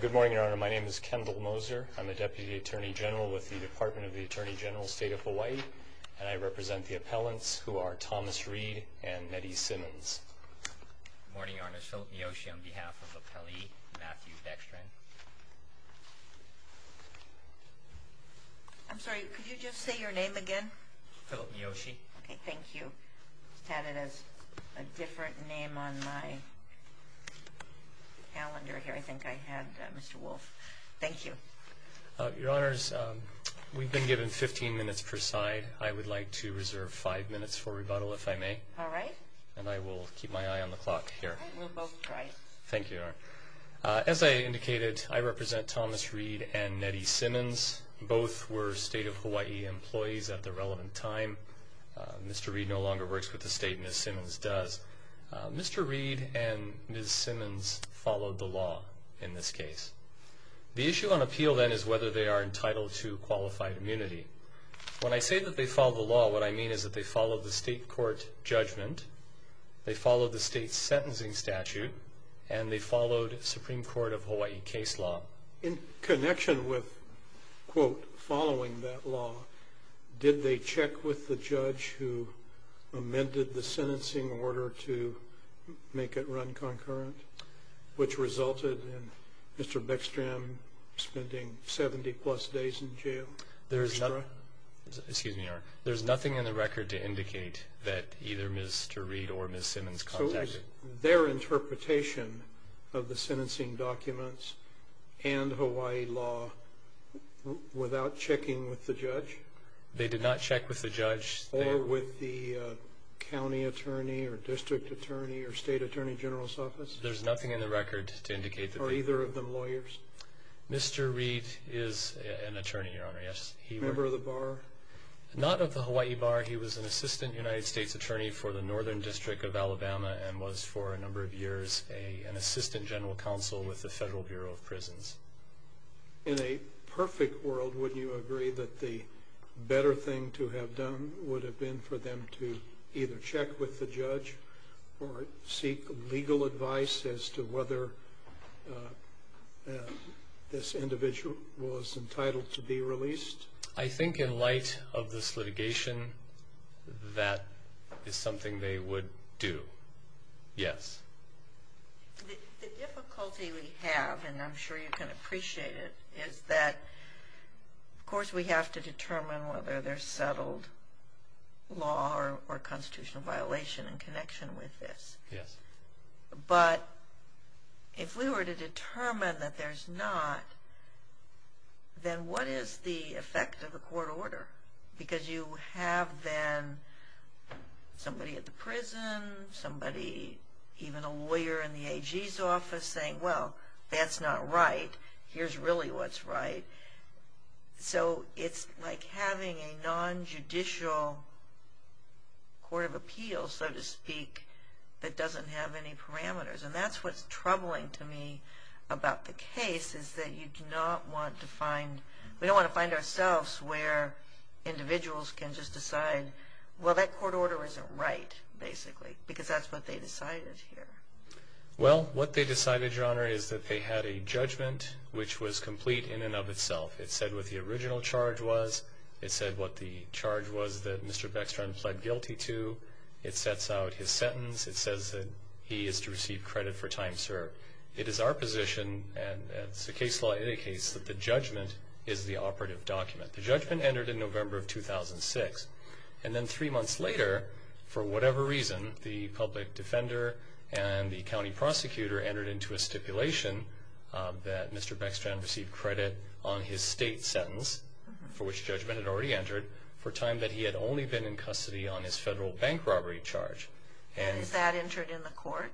Good morning, Your Honor. My name is Kendall Moser. I'm a Deputy Attorney General with the Department of the Attorney General, State of Hawaii, and I represent the appellants who are Thomas Read and Mehdi Simmons. Good morning, Your Honor. Philip Miyoshi on behalf of Appellee Matthew Beckstrand. I'm sorry, could you just say your name again? Philip Miyoshi. Okay, thank you. Had it as a different name on my calendar here. I think I had Mr. Wolf. Thank you. Your Honors, we've been given 15 minutes per side. I would like to reserve five minutes for rebuttal, if I may. All right. And I will keep my eye on the clock here. We'll both try. Thank you, Your Honor. As I indicated, I represent Thomas Read and Mehdi Simmons. Both were State of Hawaii employees at the relevant time. Mr. Read no longer works with the state and Ms. Simmons does. Mr. Read and Ms. Simmons followed the law in this case. The issue on appeal then is whether they are entitled to qualified immunity. When I say that they followed the law, what I mean is that they followed the state court judgment, they followed the state's sentencing statute, and they followed Supreme Court of Hawaii case law. In connection with, quote, following that law, did they check with the judge who amended the sentencing order to make it run concurrent, which resulted in Mr. Beckstrand spending 70 plus days in jail? Excuse me, Your Honor. There's nothing in the record to indicate that either Mr. Read or Ms. Simmons contacted. So it was their interpretation of the sentencing documents and Hawaii law without checking with the judge? They did not check with the judge. Or with the county attorney or district attorney or state attorney general's office? There's nothing in the record to indicate that. Or either of them lawyers? Mr. Read is an attorney, Your Honor, yes. Member of the bar? Not of the Hawaii bar. He was an assistant United States attorney for the Northern District of Alabama and was for a number of years an assistant general counsel with the Federal Bureau of Prisons. In a perfect world, would you agree that the better thing to have done would have been for them to either check with the judge or seek legal advice as to whether this individual was entitled to be released? I think in light of this litigation, that is something they would do, yes. The difficulty we have, and I'm sure you can appreciate it, is that, of course, we have to determine whether there's settled law or constitutional violation in connection with this. Yes. But if we were to determine that there's not, then what is the effect of a court order? Because you have then somebody at the prison, somebody, even a lawyer in the AG's office saying, well, that's not right. Here's really what's right. So it's like having a nonjudicial court of appeals, so to speak, that doesn't have any parameters. And that's what's troubling to me about the case is that you do not want to find, we don't want to find ourselves where individuals can just decide, well, that court order isn't right, basically, because that's what they decided here. Well, what they decided, Your Honor, is that they had a judgment which was complete in and of itself. It said what the original charge was. It said what the charge was that Mr. Beckstrand pled guilty to. It sets out his sentence. It says that he is to receive credit for time served. It is our position, and as the case law indicates, that the judgment is the operative document. The judgment entered in November of 2006. And then three months later, for whatever reason, the public defender and the county prosecutor entered into a stipulation that Mr. Beckstrand received credit on his state sentence, for which judgment had already entered, for time that he had only been in custody on his federal bank robbery charge. And is that entered in the court?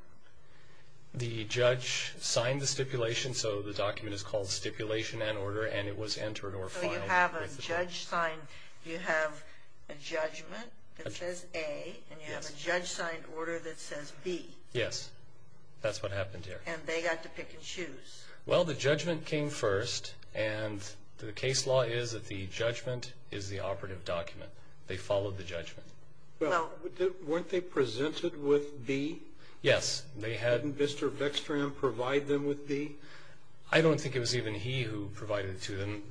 The judge signed the stipulation, so the document is called stipulation and order, and it was entered or filed. So you have a judge sign. You have a judgment that says A, and you have a judge signed order that says B. Yes, that's what happened here. And they got to pick and choose. Well, the judgment came first, and the case law is that the judgment is the operative document. They followed the judgment. Well, weren't they presented with B? Yes, they had. Didn't Mr. Beckstrand provide them with B? I don't think it was even he who provided it to them.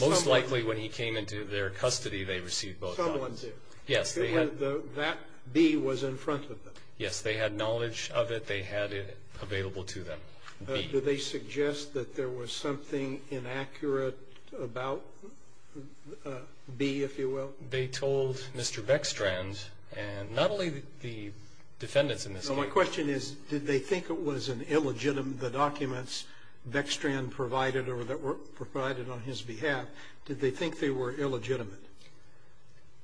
Most likely, when he came into their custody, they received both. Someone did. Yes, they had. That B was in front of them. Yes, they had knowledge of it. They had it available to them, B. Did they suggest that there was something inaccurate about B, if you will? So my question is, did they think it was an illegitimate, the documents Beckstrand provided or that were provided on his behalf, did they think they were illegitimate?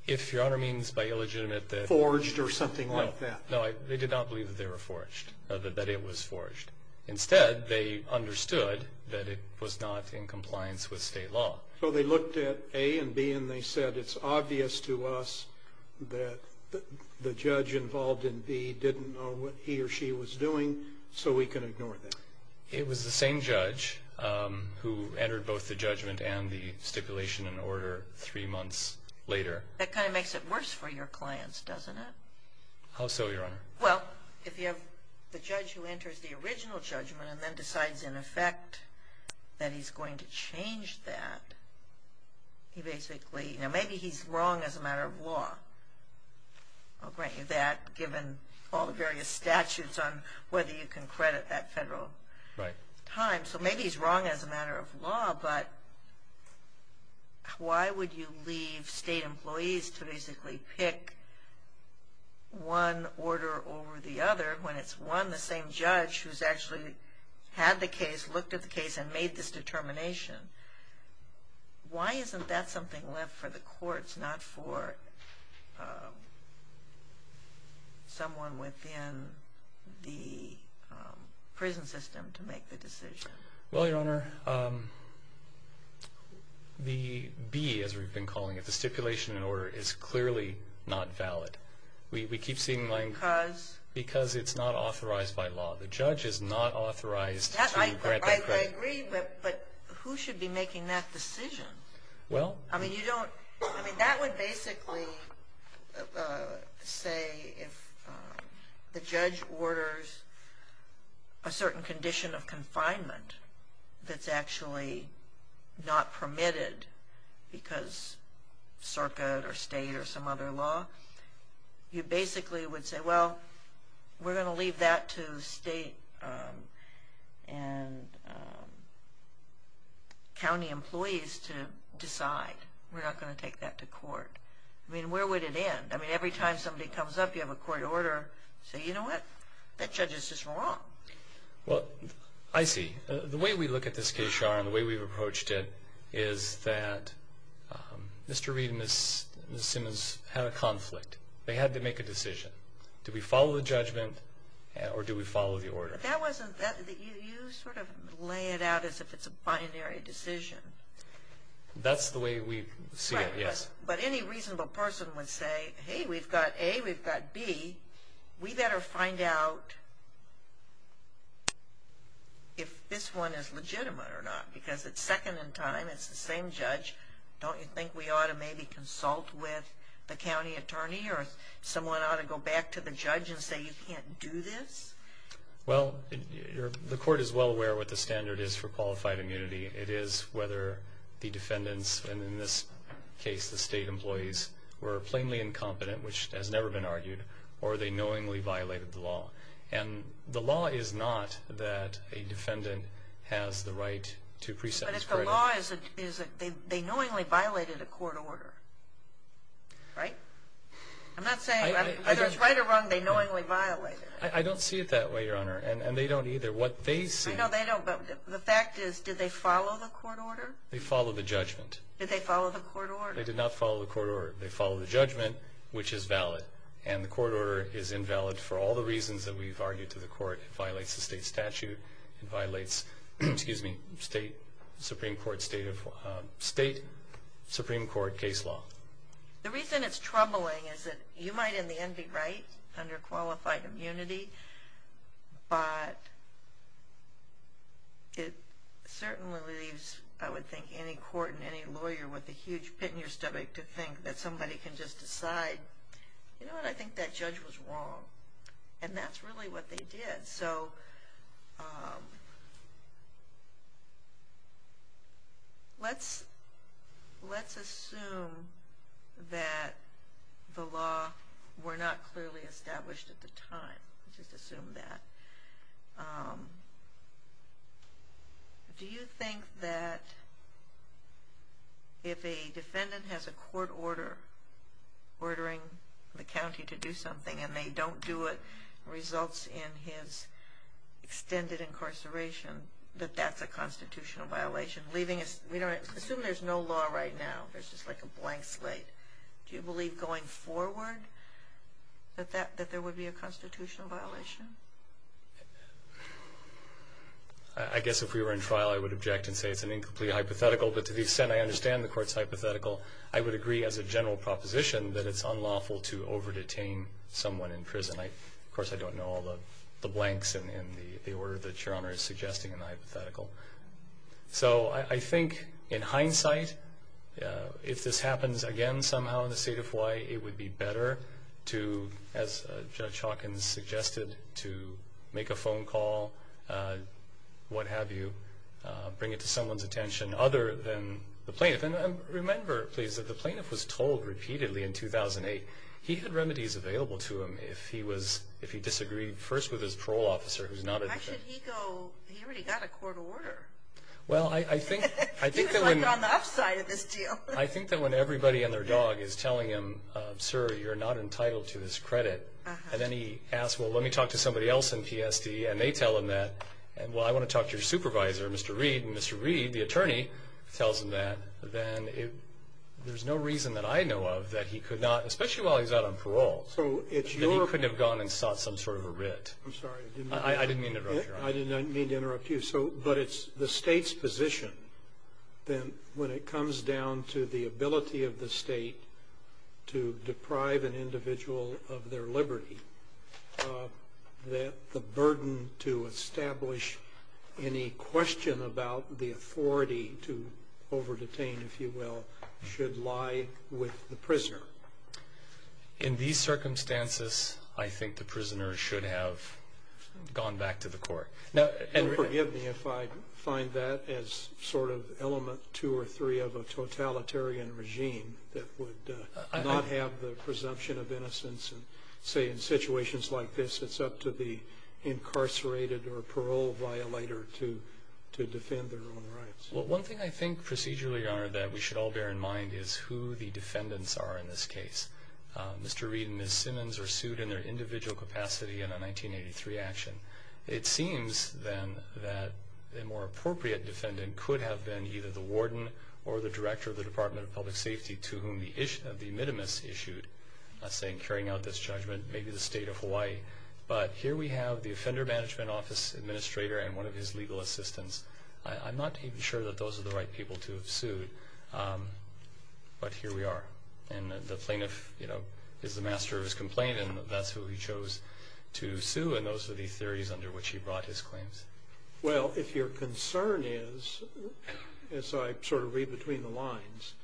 If Your Honor means by illegitimate that... Forged or something like that. No, they did not believe that they were forged, that it was forged. Instead, they understood that it was not in compliance with state law. So they looked at A and B, and they said, it's obvious to us that the judge involved in B didn't know what he or she was doing, so we can ignore that. It was the same judge who entered both the judgment and the stipulation in order three months later. That kind of makes it worse for your clients, doesn't it? How so, Your Honor? Well, if you have the judge who enters the original judgment and then decides in effect that he's going to change that, he basically, maybe he's wrong as a matter of law. I'll grant you that, given all the various statutes on whether you can credit that federal time. So maybe he's wrong as a matter of law, but why would you leave state employees to basically pick one order over the other when it's one and the same judge who's actually had the case, looked at the case, and made this determination? Why isn't that something left for the courts, not for someone within the prison system to make the decision? Well, Your Honor, the B, as we've been calling it, the stipulation in order, is clearly not valid. Because? Because it's not authorized by law. The judge is not authorized to grant that credit. I agree, but who should be making that decision? I mean, that would basically say if the judge orders a certain condition of confinement that's actually not permitted because circuit or state or some other law, you basically would say, well, we're going to leave that to state and county employees to decide. We're not going to take that to court. I mean, where would it end? I mean, every time somebody comes up, you have a court order, say, you know what, that judge is just wrong. Well, I see. The way we look at this case, Your Honor, and the way we've approached it, is that Mr. Reed and Ms. Simmons had a conflict. They had to make a decision. Do we follow the judgment or do we follow the order? That wasn't that. You sort of lay it out as if it's a binary decision. That's the way we see it, yes. But any reasonable person would say, hey, we've got A, we've got B. We better find out if this one is legitimate or not because it's second in time. It's the same judge. Don't you think we ought to maybe consult with the county attorney or someone ought to go back to the judge and say you can't do this? Well, the court is well aware what the standard is for qualified immunity. It is whether the defendants, and in this case the state employees, were plainly incompetent, which has never been argued, or they knowingly violated the law. And the law is not that a defendant has the right to pre-sentence credit. But if the law is that they knowingly violated a court order, right? I'm not saying whether it's right or wrong, they knowingly violated it. I don't see it that way, Your Honor, and they don't either. What they see. I know they don't, but the fact is, did they follow the court order? They followed the judgment. Did they follow the court order? They did not follow the court order. They followed the judgment, which is valid. And the court order is invalid for all the reasons that we've argued to the court. It violates the state statute. It violates state Supreme Court case law. The reason it's troubling is that you might in the end be right under qualified immunity, but it certainly leaves, I would think, any court and any lawyer with a huge pit in your stomach to think that somebody can just decide, you know what, I think that judge was wrong. And that's really what they did. So let's assume that the law were not clearly established at the time. Let's just assume that. Do you think that if a defendant has a court order ordering the county to do something and they don't do it results in his extended incarceration, that that's a constitutional violation? Assume there's no law right now. There's just like a blank slate. Do you believe going forward that there would be a constitutional violation? I guess if we were in trial I would object and say it's an incomplete hypothetical, but to the extent I understand the court's hypothetical, I would agree as a general proposition that it's unlawful to over-detain someone in prison. Of course, I don't know all the blanks in the order that Your Honor is suggesting in the hypothetical. So I think in hindsight, if this happens again somehow in the state of Hawaii, it would be better to, as Judge Hawkins suggested, to make a phone call, what have you, bring it to someone's attention other than the plaintiff. And remember, please, that the plaintiff was told repeatedly in 2008, he had remedies available to him if he disagreed first with his parole officer who's not a defendant. Why should he go? He already got a court order. He was like on the upside of this deal. I think that when everybody and their dog is telling him, sir, you're not entitled to this credit, and then he asks, well, let me talk to somebody else in PSD, and they tell him that, and, well, I want to talk to your supervisor, Mr. Reed, and Mr. Reed, the attorney, tells him that, then there's no reason that I know of that he could not, especially while he's out on parole, that he couldn't have gone and sought some sort of a writ. I'm sorry. I didn't mean to interrupt you. I didn't mean to interrupt you. So, but it's the state's position, then, when it comes down to the ability of the state to deprive an individual of their liberty, that the burden to establish any question about the authority to over-detain, if you will, should lie with the prisoner. In these circumstances, I think the prisoner should have gone back to the court. And forgive me if I find that as sort of element two or three of a totalitarian regime that would not have the presumption of innocence and say, in situations like this, it's up to the incarcerated or parole violator to defend their own rights. Well, one thing I think procedurally, Your Honor, that we should all bear in mind is who the defendants are in this case. Mr. Reed and Ms. Simmons are sued in their individual capacity in a 1983 action. It seems, then, that the more appropriate defendant could have been either the warden or the director of the Department of Public Safety to whom the issue of the minimus issued, saying, carrying out this judgment, maybe the state of Hawaii. But here we have the Offender Management Office administrator and one of his legal assistants. I'm not even sure that those are the right people to have sued, but here we are. And the plaintiff is the master of his complaint, and that's who he chose to sue, and those are the theories under which he brought his claims. Well, if your concern is, as I sort of read between the lines,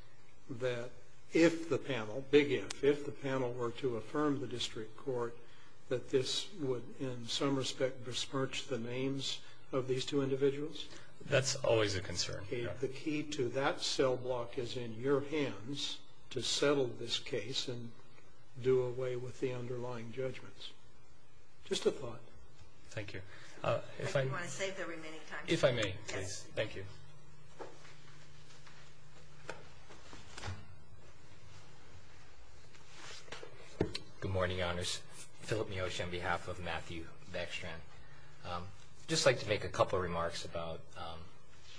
that if the panel, big if, that's always a concern. The key to that cell block is in your hands to settle this case and do away with the underlying judgments. Just a thought. Thank you. Do you want to save the remaining time? If I may, please. Thank you. Good morning, Your Honors. Philip Miyoshi on behalf of Matthew Beckstrand. I'd just like to make a couple of remarks about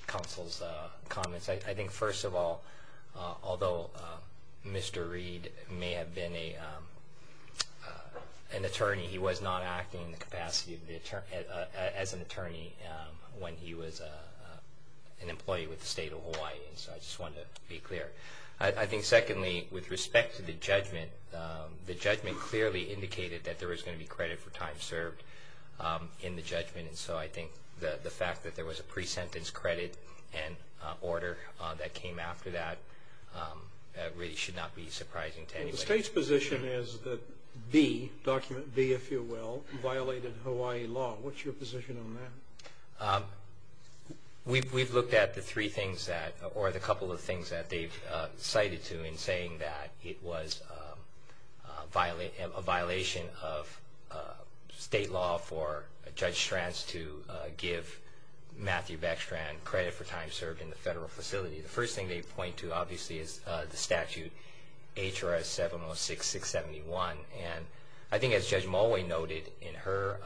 counsel's comments. I think, first of all, although Mr. Reed may have been an attorney, he was not acting in the capacity as an attorney when he was an employee with the state of Hawaii. So I just wanted to be clear. I think, secondly, with respect to the judgment, the judgment clearly indicated that there was going to be credit for time served in the judgment, and so I think the fact that there was a pre-sentence credit and order that came after that really should not be surprising to anybody. The state's position is that the document, B, if you will, violated Hawaii law. What's your position on that? We've looked at the three things that, or the couple of things that they've cited to in saying that it was a violation of state law for Judge Stranz to give Matthew Beckstrand credit for time served in the federal facility. The first thing they point to, obviously, is the statute, HRS 706-671, and I think, as Judge Mulway noted in her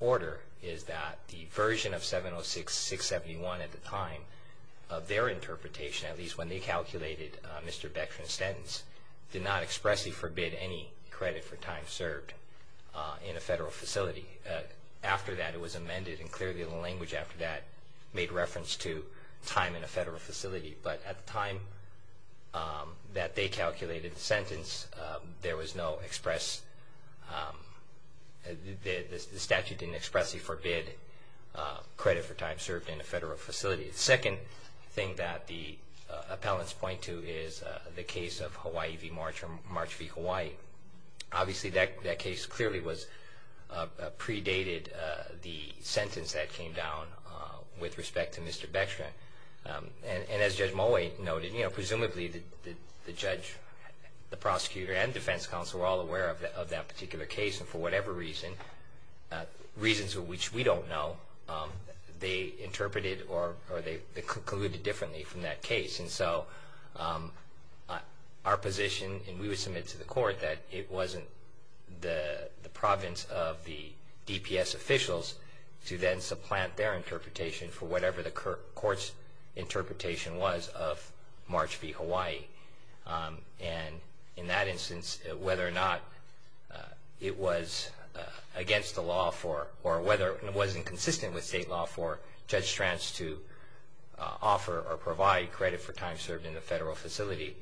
order, is that the version of 706-671 at the time of their interpretation, at least when they calculated Mr. Beckstrand's sentence, did not expressly forbid any credit for time served in a federal facility. After that, it was amended, and clearly the language after that made reference to time in a federal facility, but at the time that they calculated the sentence, there was no express, the statute didn't expressly forbid credit for time served in a federal facility. The second thing that the appellants point to is the case of Hawaii v. March or March v. Hawaii. Obviously, that case clearly predated the sentence that came down with respect to Mr. Beckstrand, and as Judge Mulway noted, presumably the judge, the prosecutor, and defense counsel were all aware of that particular case, and for whatever reason, reasons which we don't know, they interpreted or they concluded differently from that case. And so our position, and we would submit to the court, that it wasn't the province of the DPS officials to then supplant their interpretation for whatever the court's interpretation was of March v. Hawaii. And in that instance, whether or not it was against the law for, or whether it wasn't consistent with state law for Judge Stranz to offer or provide credit for time served in a federal facility,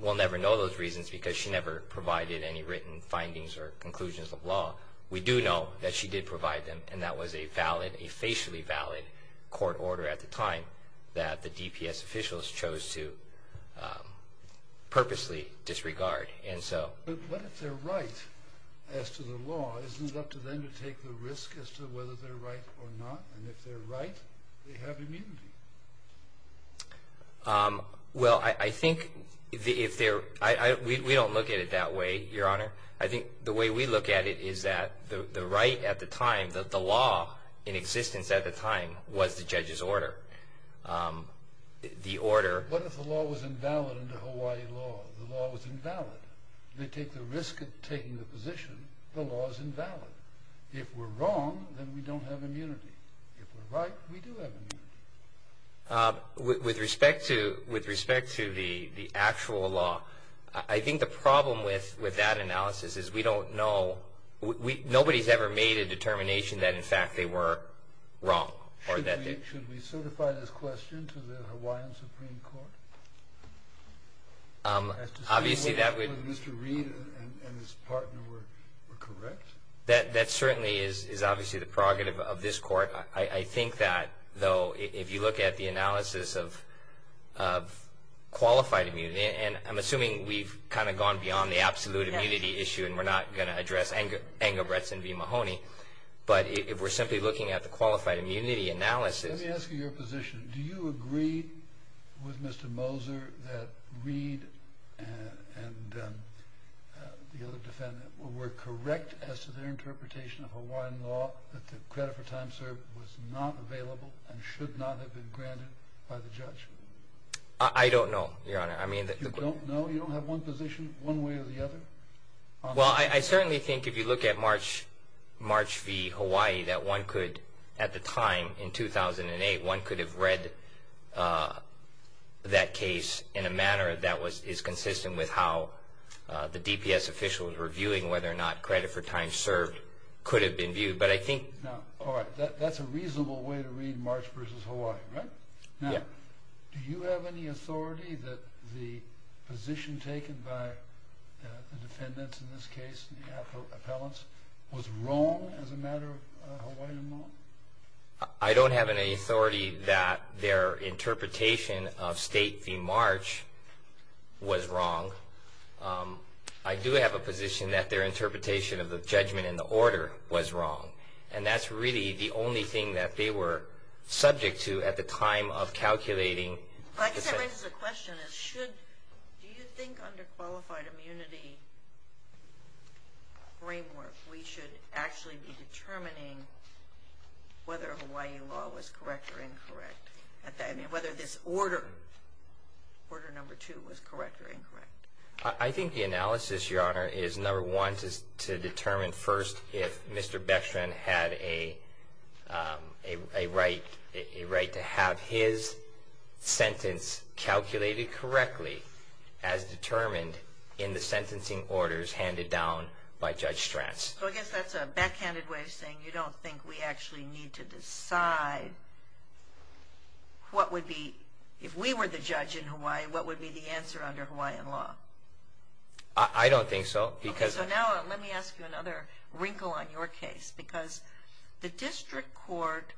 we'll never know those reasons because she never provided any written findings or conclusions of law. We do know that she did provide them, and that was a valid, a facially valid court order at the time that the DPS officials chose to purposely disregard. But what if they're right as to the law? Isn't it up to them to take the risk as to whether they're right or not? And if they're right, they have immunity. Well, I think if they're, we don't look at it that way, Your Honor. I think the way we look at it is that the right at the time, the law in existence at the time, was the judge's order. The order. What if the law was invalid under Hawaii law? The law was invalid. They take the risk of taking the position the law is invalid. If we're wrong, then we don't have immunity. If we're right, we do have immunity. With respect to the actual law, I think the problem with that analysis is we don't know. Nobody's ever made a determination that, in fact, they were wrong. Should we certify this question to the Hawaiian Supreme Court? Obviously, that would. Mr. Reed and his partner were correct. That certainly is obviously the prerogative of this court. I think that, though, if you look at the analysis of qualified immunity, and I'm assuming we've kind of gone beyond the absolute immunity issue and we're not going to address Engelbretson v. Mahoney, but if we're simply looking at the qualified immunity analysis. Let me ask you your position. Do you agree with Mr. Moser that Reed and the other defendant were correct as to their interpretation of Hawaiian law, that the credit for time served was not available and should not have been granted by the judge? I don't know, Your Honor. You don't know? You don't have one position one way or the other? Well, I certainly think if you look at March v. Hawaii that one could, at the time in 2008, one could have read that case in a manner that is consistent with how the DPS official was reviewing whether or not credit for time served could have been viewed. All right. That's a reasonable way to read March v. Hawaii, right? Yeah. Now, do you have any authority that the position taken by the defendants in this case, the appellants, was wrong as a matter of Hawaiian law? I don't have any authority that their interpretation of State v. March was wrong. I do have a position that their interpretation of the judgment in the order was wrong, and that's really the only thing that they were subject to at the time of calculating. I guess that raises a question. Do you think under qualified immunity framework, we should actually be determining whether Hawaii law was correct or incorrect, whether this order, Order No. 2, was correct or incorrect? I think the analysis, Your Honor, is, number one, to determine first if Mr. Beckstrand had a right to have his sentence calculated correctly as determined in the sentencing orders handed down by Judge Strass. So I guess that's a backhanded way of saying you don't think we actually need to decide what would be, if we were the judge in Hawaii, what would be the answer under Hawaiian law? I don't think so. So now let me ask you another wrinkle on your case, because the district court,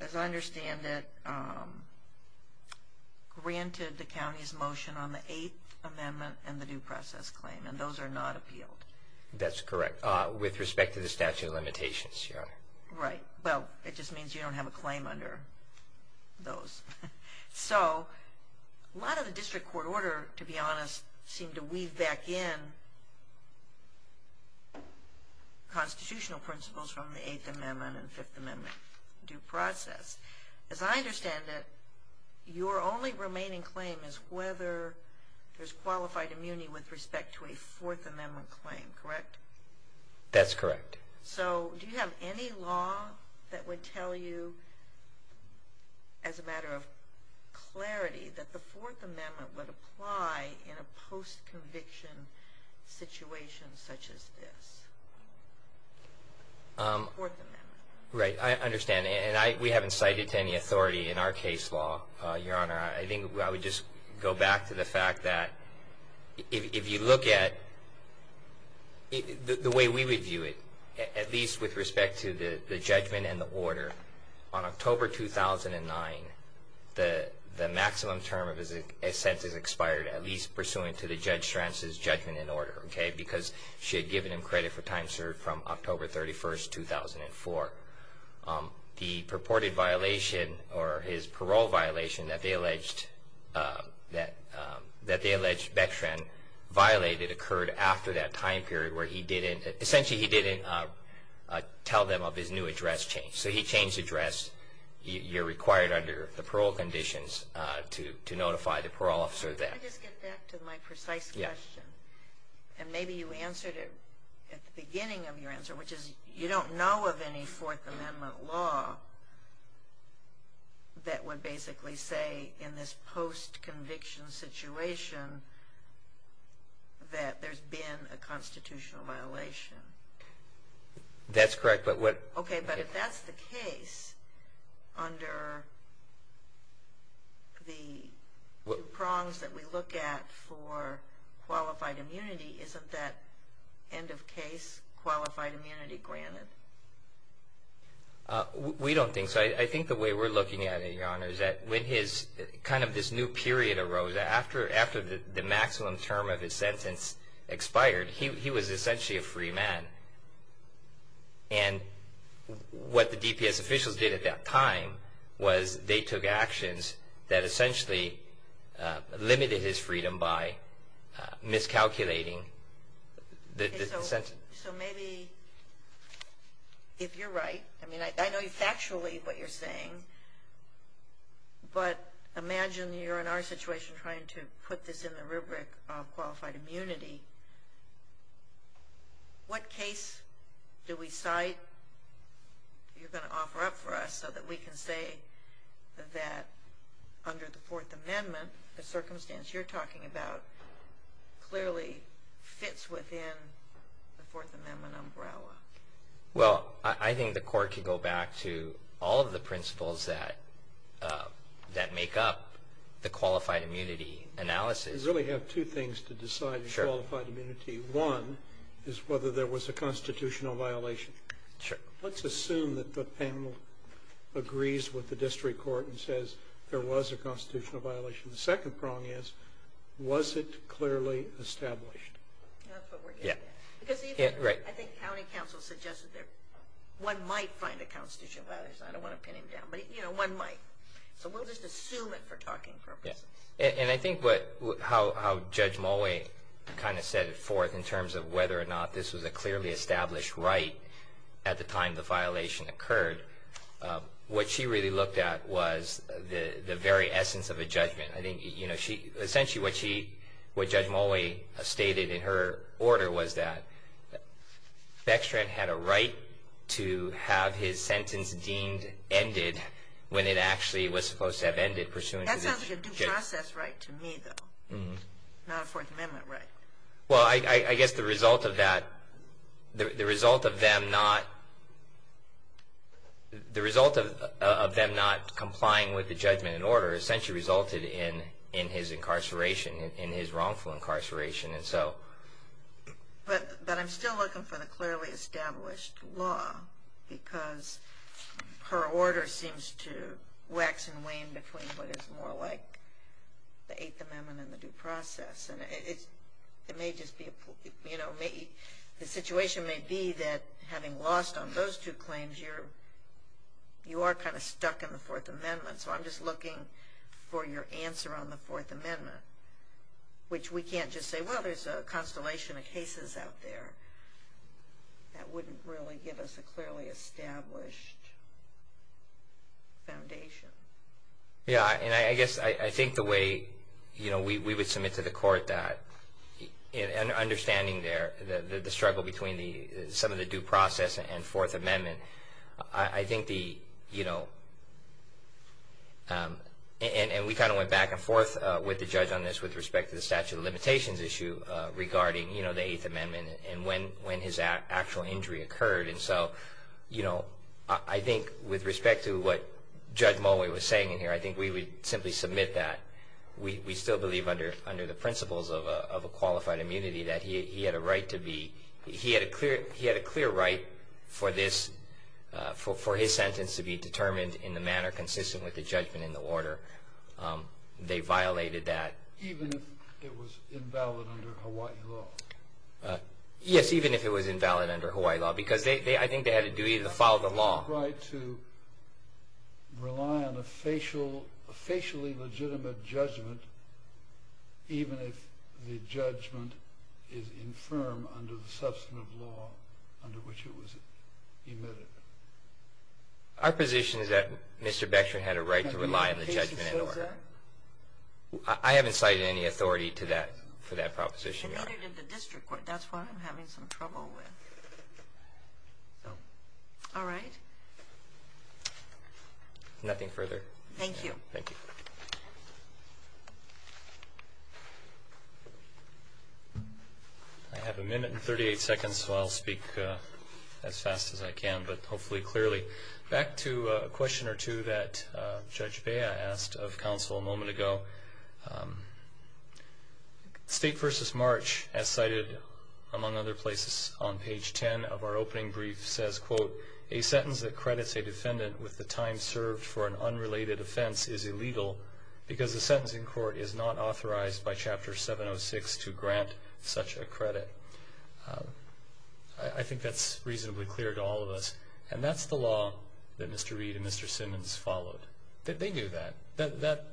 as I understand it, granted the county's motion on the Eighth Amendment and the due process claim, and those are not appealed. That's correct. With respect to the statute of limitations, Your Honor. Right. Well, it just means you don't have a claim under those. So a lot of the district court order, to be honest, seemed to weave back in constitutional principles from the Eighth Amendment and Fifth Amendment due process. As I understand it, your only remaining claim is whether there's qualified immunity with respect to a Fourth Amendment claim, correct? That's correct. So do you have any law that would tell you, as a matter of clarity, that the Fourth Amendment would apply in a post-conviction situation such as this? Fourth Amendment. Right. As I understand it, and we haven't cited to any authority in our case law, Your Honor, I think I would just go back to the fact that if you look at the way we would view it, at least with respect to the judgment and the order, on October 2009, the maximum term of his sentence expired, at least pursuant to Judge Stranz's judgment and order, okay, because she had given him credit for time served from October 31st, 2004. The purported violation or his parole violation that they alleged Bechtran violated occurred after that time period where he didn't, essentially he didn't tell them of his new address change. So he changed address. You're required under the parole conditions to notify the parole officer of that. Can I just get back to my precise question? Yes. And maybe you answered it at the beginning of your answer, which is you don't know of any Fourth Amendment law that would basically say in this post-conviction situation that there's been a constitutional violation. That's correct. Okay, but if that's the case under the prongs that we look at for qualified immunity, isn't that end of case qualified immunity granted? We don't think so. I think the way we're looking at it, Your Honor, is that when his kind of this new period arose, after the maximum term of his sentence expired, he was essentially a free man. And what the DPS officials did at that time was they took actions that essentially limited his freedom by miscalculating the sentence. So maybe if you're right, I mean, I know factually what you're saying, but imagine you're in our situation trying to put this in the rubric of qualified immunity. What case do we cite you're going to offer up for us so that we can say that under the Fourth Amendment, the circumstance you're talking about clearly fits within the Fourth Amendment umbrella? Well, I think the court could go back to all of the principles that make up the qualified immunity analysis. You really have two things to decide in qualified immunity. One is whether there was a constitutional violation. Let's assume that the panel agrees with the district court and says there was a constitutional violation. The second prong is, was it clearly established? That's what we're getting at. Because even I think county counsel suggested that one might find a constitutional violation. I don't want to pin him down, but one might. So we'll just assume it for talking purposes. And I think how Judge Mulway kind of set it forth in terms of whether or not this was a clearly established right at the time the violation occurred, what she really looked at was the very essence of a judgment. Essentially what Judge Mulway stated in her order was that Bextran had a right to have his sentence deemed ended when it actually was supposed to have ended pursuant to the district court. That sounds like a due process right to me, though. Not a Fourth Amendment right. Well, I guess the result of that, the result of them not, the result of them not complying with the judgment and order essentially resulted in his incarceration, in his wrongful incarceration. But I'm still looking for the clearly established law because her order seems to wax and wane between what is more like the Eighth Amendment and the due process. And it may just be, you know, the situation may be that having lost on those two claims, you are kind of stuck in the Fourth Amendment. So I'm just looking for your answer on the Fourth Amendment, which we can't just say, well, there's a constellation of cases out there. That wouldn't really give us a clearly established foundation. Yeah, and I guess I think the way we would submit to the court that, and understanding there the struggle between some of the due process and Fourth Amendment, I think the, you know, and we kind of went back and forth with the judge on this with respect to the statute of limitations issue regarding the Eighth Amendment and when his actual injury occurred. And so, you know, I think with respect to what Judge Moway was saying in here, I think we would simply submit that. We still believe under the principles of a qualified immunity that he had a right to be, he had a clear right for his sentence to be determined in the manner consistent with the judgment and the order. They violated that. Even if it was invalid under Hawaii law? Yes, even if it was invalid under Hawaii law. Because I think they had a duty to follow the law. They had a right to rely on a facially legitimate judgment even if the judgment is infirm under the substantive law under which it was emitted. Our position is that Mr. Bechtrin had a right to rely on the judgment in order. I haven't cited any authority for that proposition, Your Honor. Other than the district court. That's what I'm having some trouble with. All right. Nothing further. Thank you. Thank you. I have a minute and 38 seconds, so I'll speak as fast as I can, but hopefully clearly. Back to a question or two that Judge Bea asked of counsel a moment ago. State v. March, as cited among other places on page 10 of our opening brief, says, quote, a sentence that credits a defendant with the time served for an unrelated offense is illegal because the sentencing court is not authorized by Chapter 706 to grant such a credit. I think that's reasonably clear to all of us. And that's the law that Mr. Reed and Mr. Simmons followed. They knew that.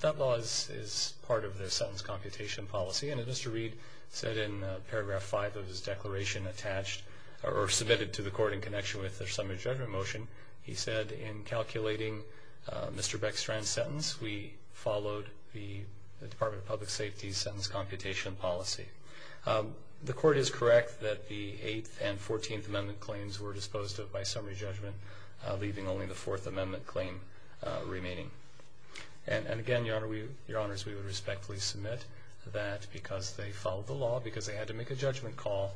That law is part of their sentence computation policy, and as Mr. Reed said in Paragraph 5 of his declaration attached or submitted to the court in connection with their summary judgment motion, he said in calculating Mr. Bechtrin's sentence, we followed the Department of Public Safety's sentence computation policy. The court is correct that the Eighth and Fourteenth Amendment claims were disposed of by summary judgment, leaving only the Fourth Amendment claim remaining. And, again, Your Honors, we would respectfully submit that because they followed the law, because they had to make a judgment call,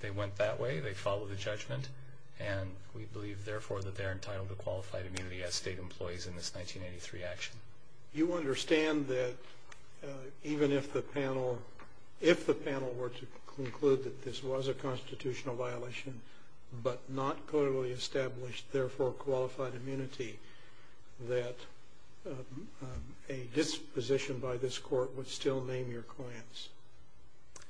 they went that way. They followed the judgment, and we believe, therefore, that they're entitled to qualified immunity as state employees in this 1983 action. You understand that even if the panel were to conclude that this was a constitutional violation but not clearly established, therefore, qualified immunity, that a disposition by this court would still name your clients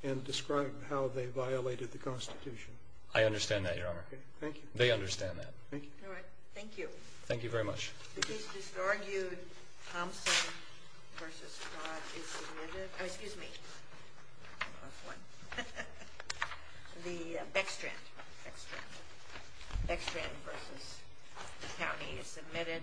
and describe how they violated the Constitution? I understand that, Your Honor. Okay. Thank you. They understand that. Thank you. All right. Thank you. Thank you very much. The case disargued, Thompson v. Scott, is submitted. Oh, excuse me. The Bechtrin, Bechtrin v. County is submitted.